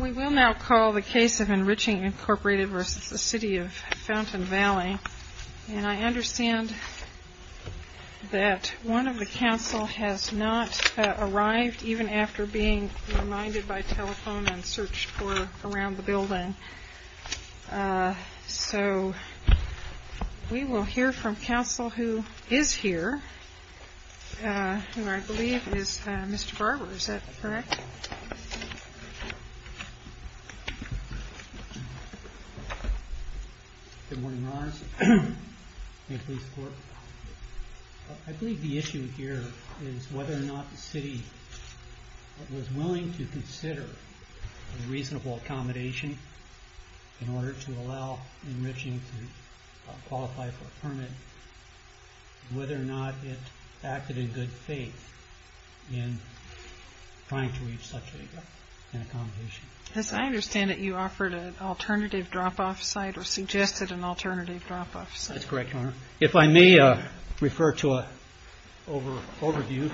We will now call the case of Enriching, Inc. v. Fountain Valley, and I understand that one of the counsel has not arrived, even after being reminded by telephone and searched for around the building. So we will hear from counsel who is here, who I believe is Mr. Barber. Is that correct? Good morning, Your Honors. I believe the issue here is whether or not the city was willing to consider a reasonable accommodation in order to allow Enriching to qualify for a such an accommodation. As I understand it, you offered an alternative drop-off site or suggested an alternative drop-off site. That's correct, Your Honor. If I may refer to an overview,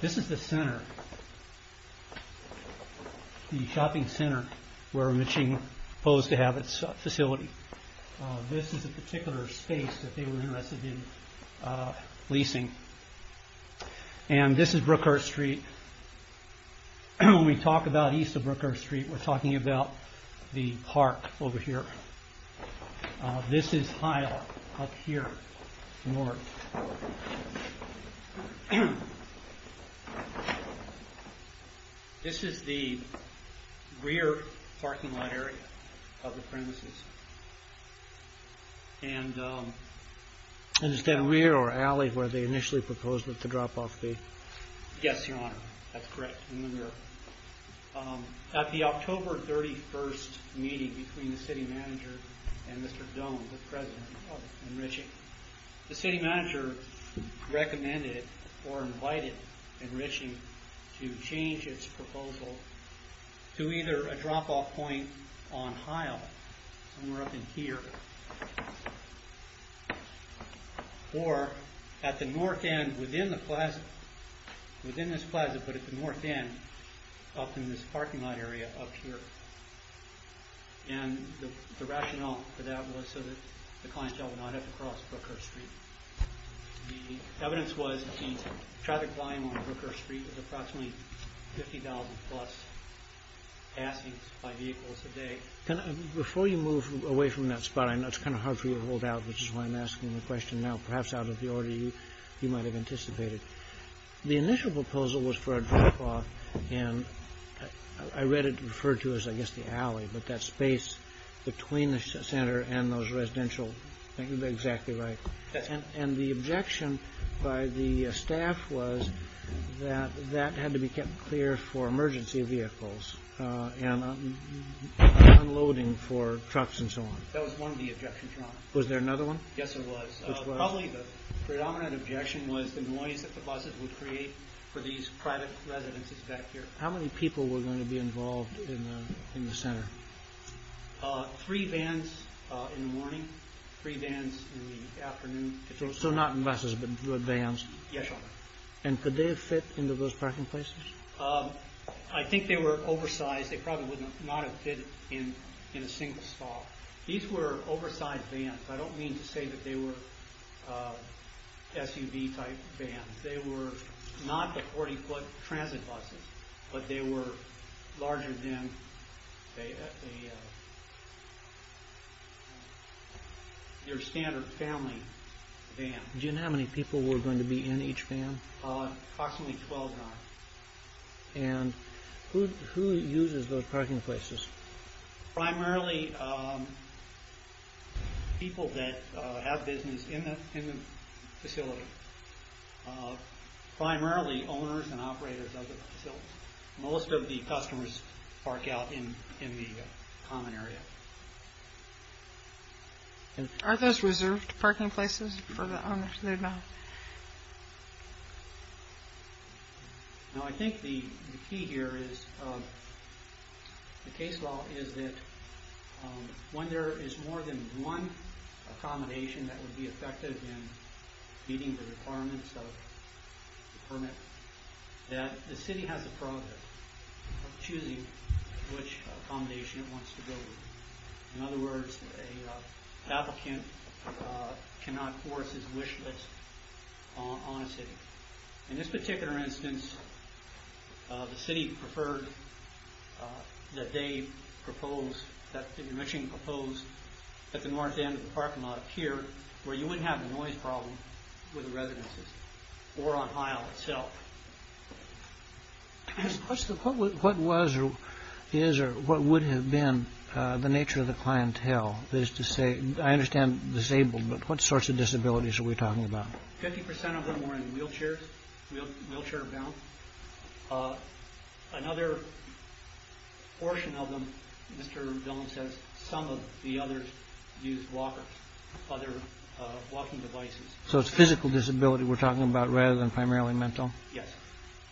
this is the shopping center where Enriching was supposed to have its facility. This is a particular space that they were interested in leasing. And this is Brookhurst Street. When we talk about east of Brookhurst Street, we're talking about the park over here. This is Hyatt up here, north. This is the rear parking lot area of the premises. And is that rear or alley where they initially proposed that the drop-off be? Yes, Your Honor. That's correct. At the October 31st meeting between the city manager and Mr. Doan, the president of Enriching, the city manager recommended or invited Enriching to change its proposal to either a drop-off point on Hyatt, somewhere up in here, or at the north end within this plaza, but at the north end up in this parking lot area up here. And the rationale for that was so that the clientele would not have to cross Brookhurst Street. The evidence was the traffic volume on Brookhurst Street was approximately 50,000 plus passings by vehicles a day. Before you move away from that spot, I know it's kind of hard for you to hold out, which is why I'm asking the question now, perhaps out of the order you might have anticipated. The initial proposal was for a drop-off, and I read it referred to as, I guess, the alley, but that space between the center and those residential, I think you're exactly right. And the objection by the staff was that that had to be kept clear for emergency vehicles and unloading for trucks and so on. That was one of the objections, Your Honor. Was there another one? Yes, there was. Probably the predominant objection was the noise that the buses would create for these private residences back here. How many people were going to be involved in the center? Three vans in the morning, three vans in the afternoon. So not in buses, but vans? Yes, Your Honor. And could they have fit into those parking places? I think they were oversized. They probably would not have fit in a single spot. These were oversized vans. I don't mean to say that they were SUV-type vans. They were not the 40-foot transit buses, but they were larger than your standard family van. Do you know how many people were going to be in each van? Approximately 12, Your Honor. And who uses those parking places? Primarily people that have business in the facility. Primarily owners and operators of the facility. Most of the customers park out in the common area. Are those reserved parking places for the owners? No, I think the key here is, the case law is that when there is more than one accommodation that would be effective in meeting the requirements of the permit, that the city has the prerogative of choosing which accommodation it wants to go with. In other words, an applicant cannot force his wish list on a city. In this particular instance, the city preferred that they propose, that the commission propose at the north end of the parking lot here, where you wouldn't have a noise problem with the residences or on Hile itself. What would have been the nature of the clientele? I understand disabled, but what sorts of disabilities are we talking about? 50% of them were in wheelchairs, wheelchair-bound. Another portion of them, Mr. Dillon says, some of the others used walkers, other walking devices. So it's physical disability we're talking about rather than primarily mental? Yes.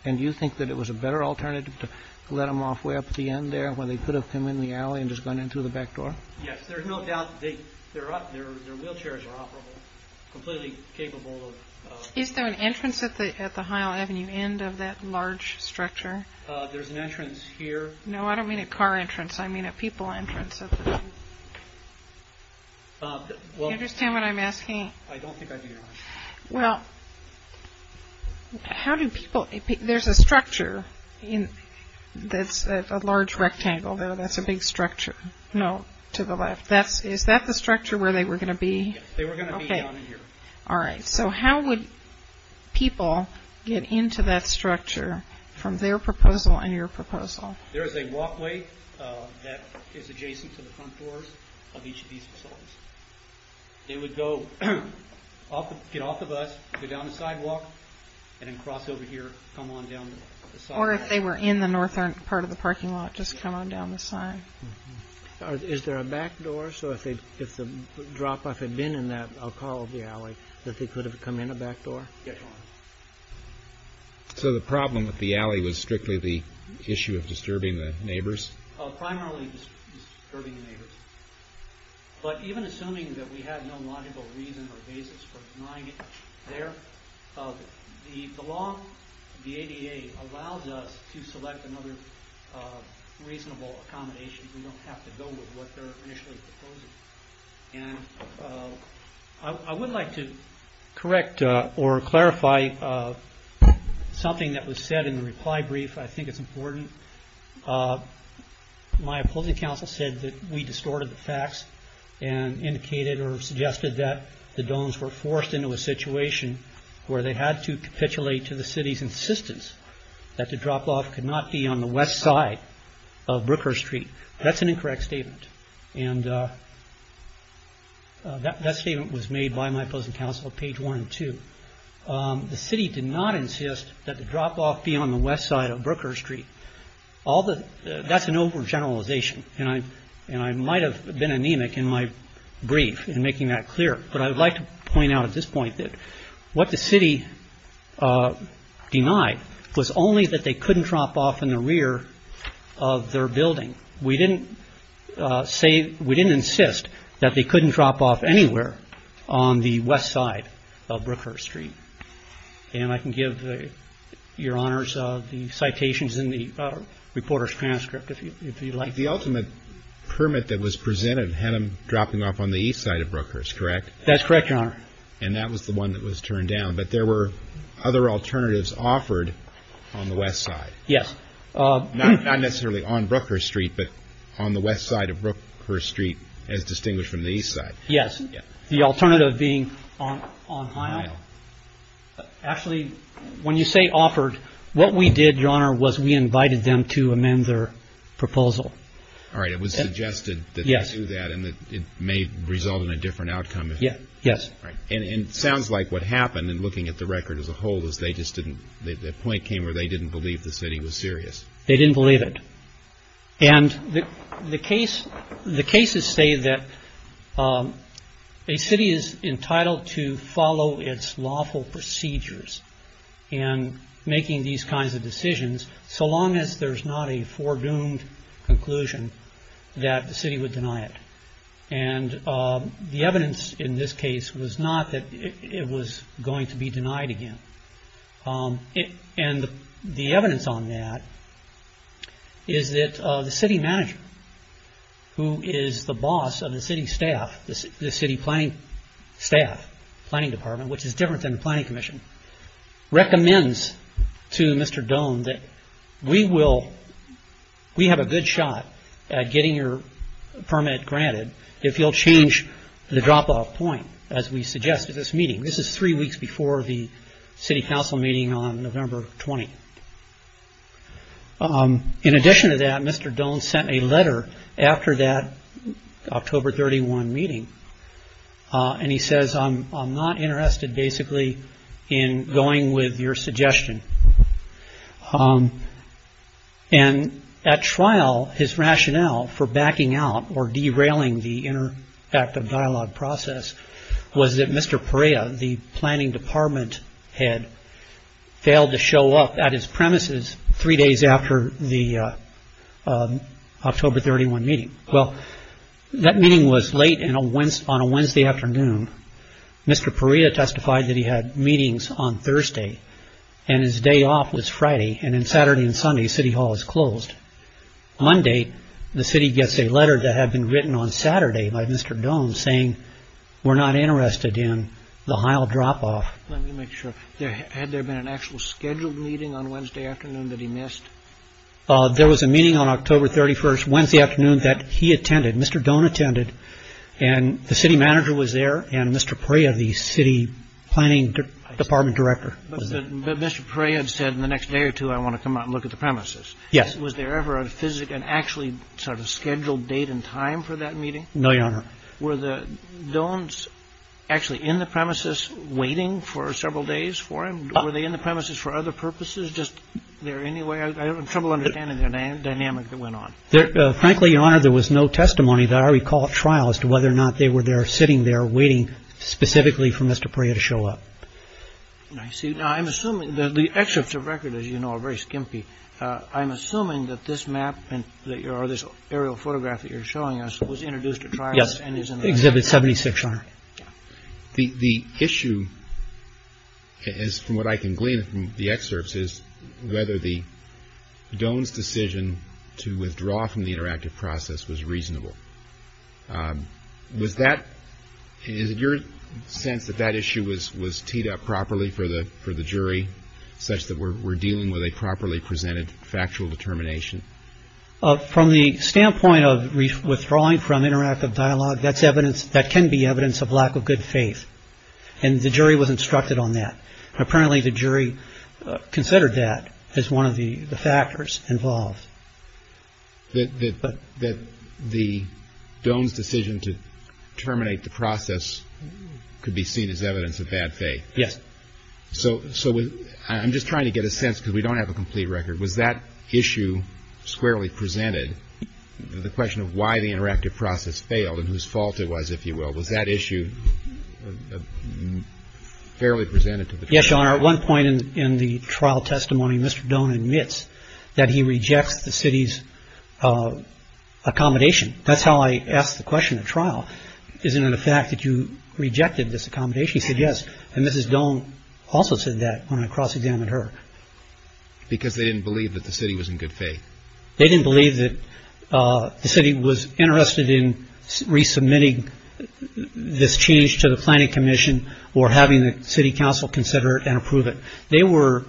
And do you think that it was a better alternative to let them off way up at the end there, where they could have come in the alley and just gone in through the back door? Yes, there's no doubt that their wheelchairs are operable, completely capable of... Is there an entrance at the Hile Avenue end of that large structure? There's an entrance here. No, I don't mean a car entrance, I mean a people entrance. Do you understand what I'm asking? I don't think I do, Your Honor. Well, how do people... There's a structure that's a large rectangle there, that's a big structure to the left. Is that the structure where they were going to be? Yes, they were going to be down in here. All right, so how would people get into that structure from their proposal and your proposal? There is a walkway that is adjacent to the front doors of each of these facilities. They would get off the bus, go down the sidewalk, and then cross over here, come on down the sidewalk. Or if they were in the northern part of the parking lot, just come on down the side. Is there a back door? So if the drop-off had been in that, I'll call it the alley, that they could have come in a back door? Yes, Your Honor. So the problem with the alley was strictly the issue of disturbing the neighbors? Primarily disturbing the neighbors. But even assuming that we have no logical reason or basis for denying it there, the law, the ADA, allows us to select another reasonable accommodation. We don't have to go with what they're initially proposing. And I would like to correct or clarify something that was said in the reply brief. I think it's important. My opposing counsel said that we distorted the facts and indicated or suggested that the domes were forced into a situation where they had to capitulate to the city's insistence that the drop-off could not be on the west side of Brookhurst Street. That's an incorrect statement. And that statement was made by my opposing counsel at page one and two. The city did not insist that the drop-off be on the west side of Brookhurst Street. That's an overgeneralization. And I might have been anemic in my brief in making that clear. But I would like to point out at this point that what the city denied was only that they couldn't drop off in the rear of their building. We didn't insist that they couldn't drop off anywhere on the west side of Brookhurst Street. And I can give your honors the citations in the reporter's transcript if you'd like. The ultimate permit that was presented had them dropping off on the east side of Brookhurst, correct? That's correct, your honor. And that was the one that was turned down. But there were other alternatives offered on the west side. Yes. Not necessarily on Brookhurst Street, but on the west side of Brookhurst Street as distinguished from the east side. Yes. The alternative being on Hile. Actually, when you say offered, what we did, your honor, was we invited them to amend their proposal. All right. It was suggested that they do that and that it may result in a different outcome. Yes. And it sounds like what happened in looking at the record as a whole was the point came where they didn't believe the city was serious. They didn't believe it. And the cases say that a city is entitled to follow its lawful procedures in making these kinds of decisions so long as there's not a foredoomed conclusion that the city would deny it. And the evidence in this case was not that it was going to be denied again. And the evidence on that is that the city manager, who is the boss of the city staff, the city planning staff, planning department, which is different than the planning commission, recommends to Mr. Doan that we have a good shot at getting your permit granted if you'll change the drop-off point, as we suggest at this meeting. This is three weeks before the city council meeting on November 20. In addition to that, Mr. Doan sent a letter after that October 31 meeting, and he says, I'm not interested, basically, in going with your suggestion. And at trial, his rationale for backing out or derailing the interactive dialogue process was that Mr. Perea, the planning department head, failed to show up at his premises three days after the October 31 meeting. Well, that meeting was late on a Wednesday afternoon. Mr. Perea testified that he had meetings on Thursday, and his day off was Friday. And on Saturday and Sunday, City Hall is closed. On Monday, the city gets a letter that had been written on Saturday by Mr. Doan saying, we're not interested in the Heil drop-off. Let me make sure. Had there been an actual scheduled meeting on Wednesday afternoon that he missed? There was a meeting on October 31, Wednesday afternoon, that he attended. Mr. Doan attended, and the city manager was there, and Mr. Perea, the city planning department director, was there. But Mr. Perea had said, in the next day or two, I want to come out and look at the premises. Yes. Was there ever an actually sort of scheduled date and time for that meeting? No, Your Honor. Were the Doans actually in the premises waiting for several days for him? Were they in the premises for other purposes? I'm having trouble understanding the dynamic that went on. Frankly, Your Honor, there was no testimony that I recall at trial as to whether or not they were there sitting there waiting specifically for Mr. Perea to show up. I'm assuming that the excerpts of record, as you know, are very skimpy. I'm assuming that this map or this aerial photograph that you're showing us was introduced at trial. Yes. Exhibit 76, Your Honor. The issue is, from what I can glean from the excerpts, is whether the Doans' decision to withdraw from the interactive process was reasonable. Was that – is it your sense that that issue was teed up properly for the jury, such that we're dealing with a properly presented factual determination? From the standpoint of withdrawing from interactive dialogue, that's evidence – that can be evidence of lack of good faith. And the jury was instructed on that. Apparently, the jury considered that as one of the factors involved. That the Doans' decision to terminate the process could be seen as evidence of bad faith. Yes. So I'm just trying to get a sense, because we don't have a complete record. Was that issue squarely presented? The question of why the interactive process failed and whose fault it was, if you will. Was that issue fairly presented to the jury? Yes, Your Honor. At one point in the trial testimony, Mr. Doan admits that he rejects the city's accommodation. That's how I asked the question at trial. Isn't it a fact that you rejected this accommodation? He said yes. And Mrs. Doan also said that when I cross-examined her. Because they didn't believe that the city was in good faith. They didn't believe that the city was interested in resubmitting this change to the Planning Commission or having the city council consider it and approve it. They were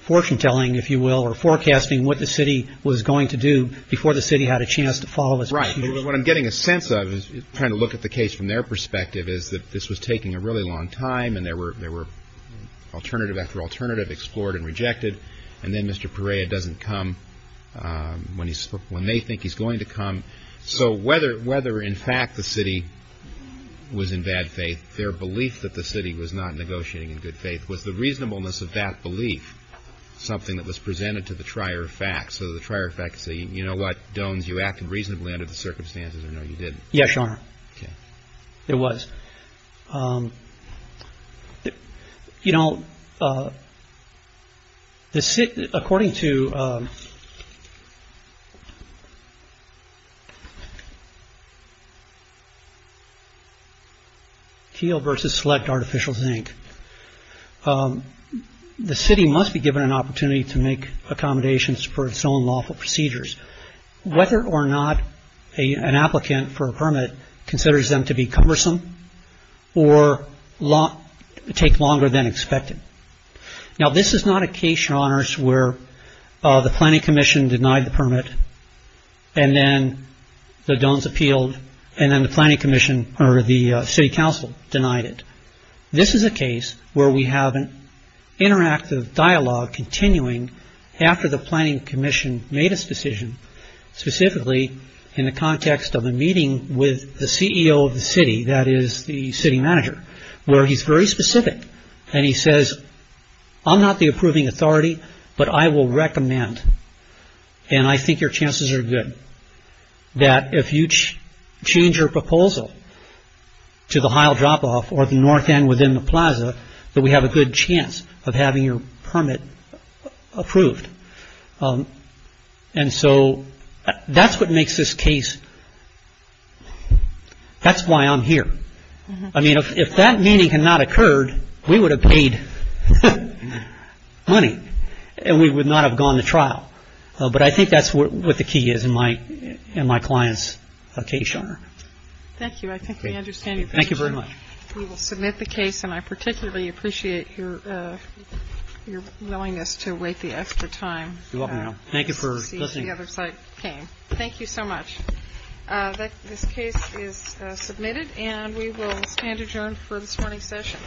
fortune-telling, if you will, or forecasting what the city was going to do before the city had a chance to follow this. Right. What I'm getting a sense of, trying to look at the case from their perspective, is that this was taking a really long time and there were alternative after alternative explored and rejected. And then Mr. Perea doesn't come when they think he's going to come. So whether in fact the city was in bad faith, their belief that the city was not negotiating in good faith, was the reasonableness of that belief something that was presented to the trier of facts? So the trier of facts saying, you know what, Doans, you acted reasonably under the circumstances or no, you didn't? Yes, Your Honor. Okay. It was. You know, according to Teal versus Select Artificial Zinc, the city must be given an opportunity to make accommodations for its own lawful procedures. Whether or not an applicant for a permit considers them to be cumbersome, or take longer than expected. Now, this is not a case, Your Honors, where the Planning Commission denied the permit and then the Doans appealed and then the Planning Commission or the City Council denied it. This is a case where we have an interactive dialogue continuing after the Planning Commission made its decision, specifically in the context of a meeting with the CEO of the city, that is the city manager, where he's very specific and he says, I'm not the approving authority, but I will recommend, and I think your chances are good, that if you change your proposal to the Heil drop-off or the north end within the plaza, that we have a good chance of having your permit approved. And so that's what makes this case, that's why I'm here. I mean, if that meeting had not occurred, we would have paid money and we would not have gone to trial. But I think that's what the key is in my client's case, Your Honor. Thank you. I think we understand. Thank you very much. We will submit the case, and I particularly appreciate your willingness to wait the extra time. Thank you for listening. Thank you so much. This case is submitted and we will stand adjourned for this morning's session.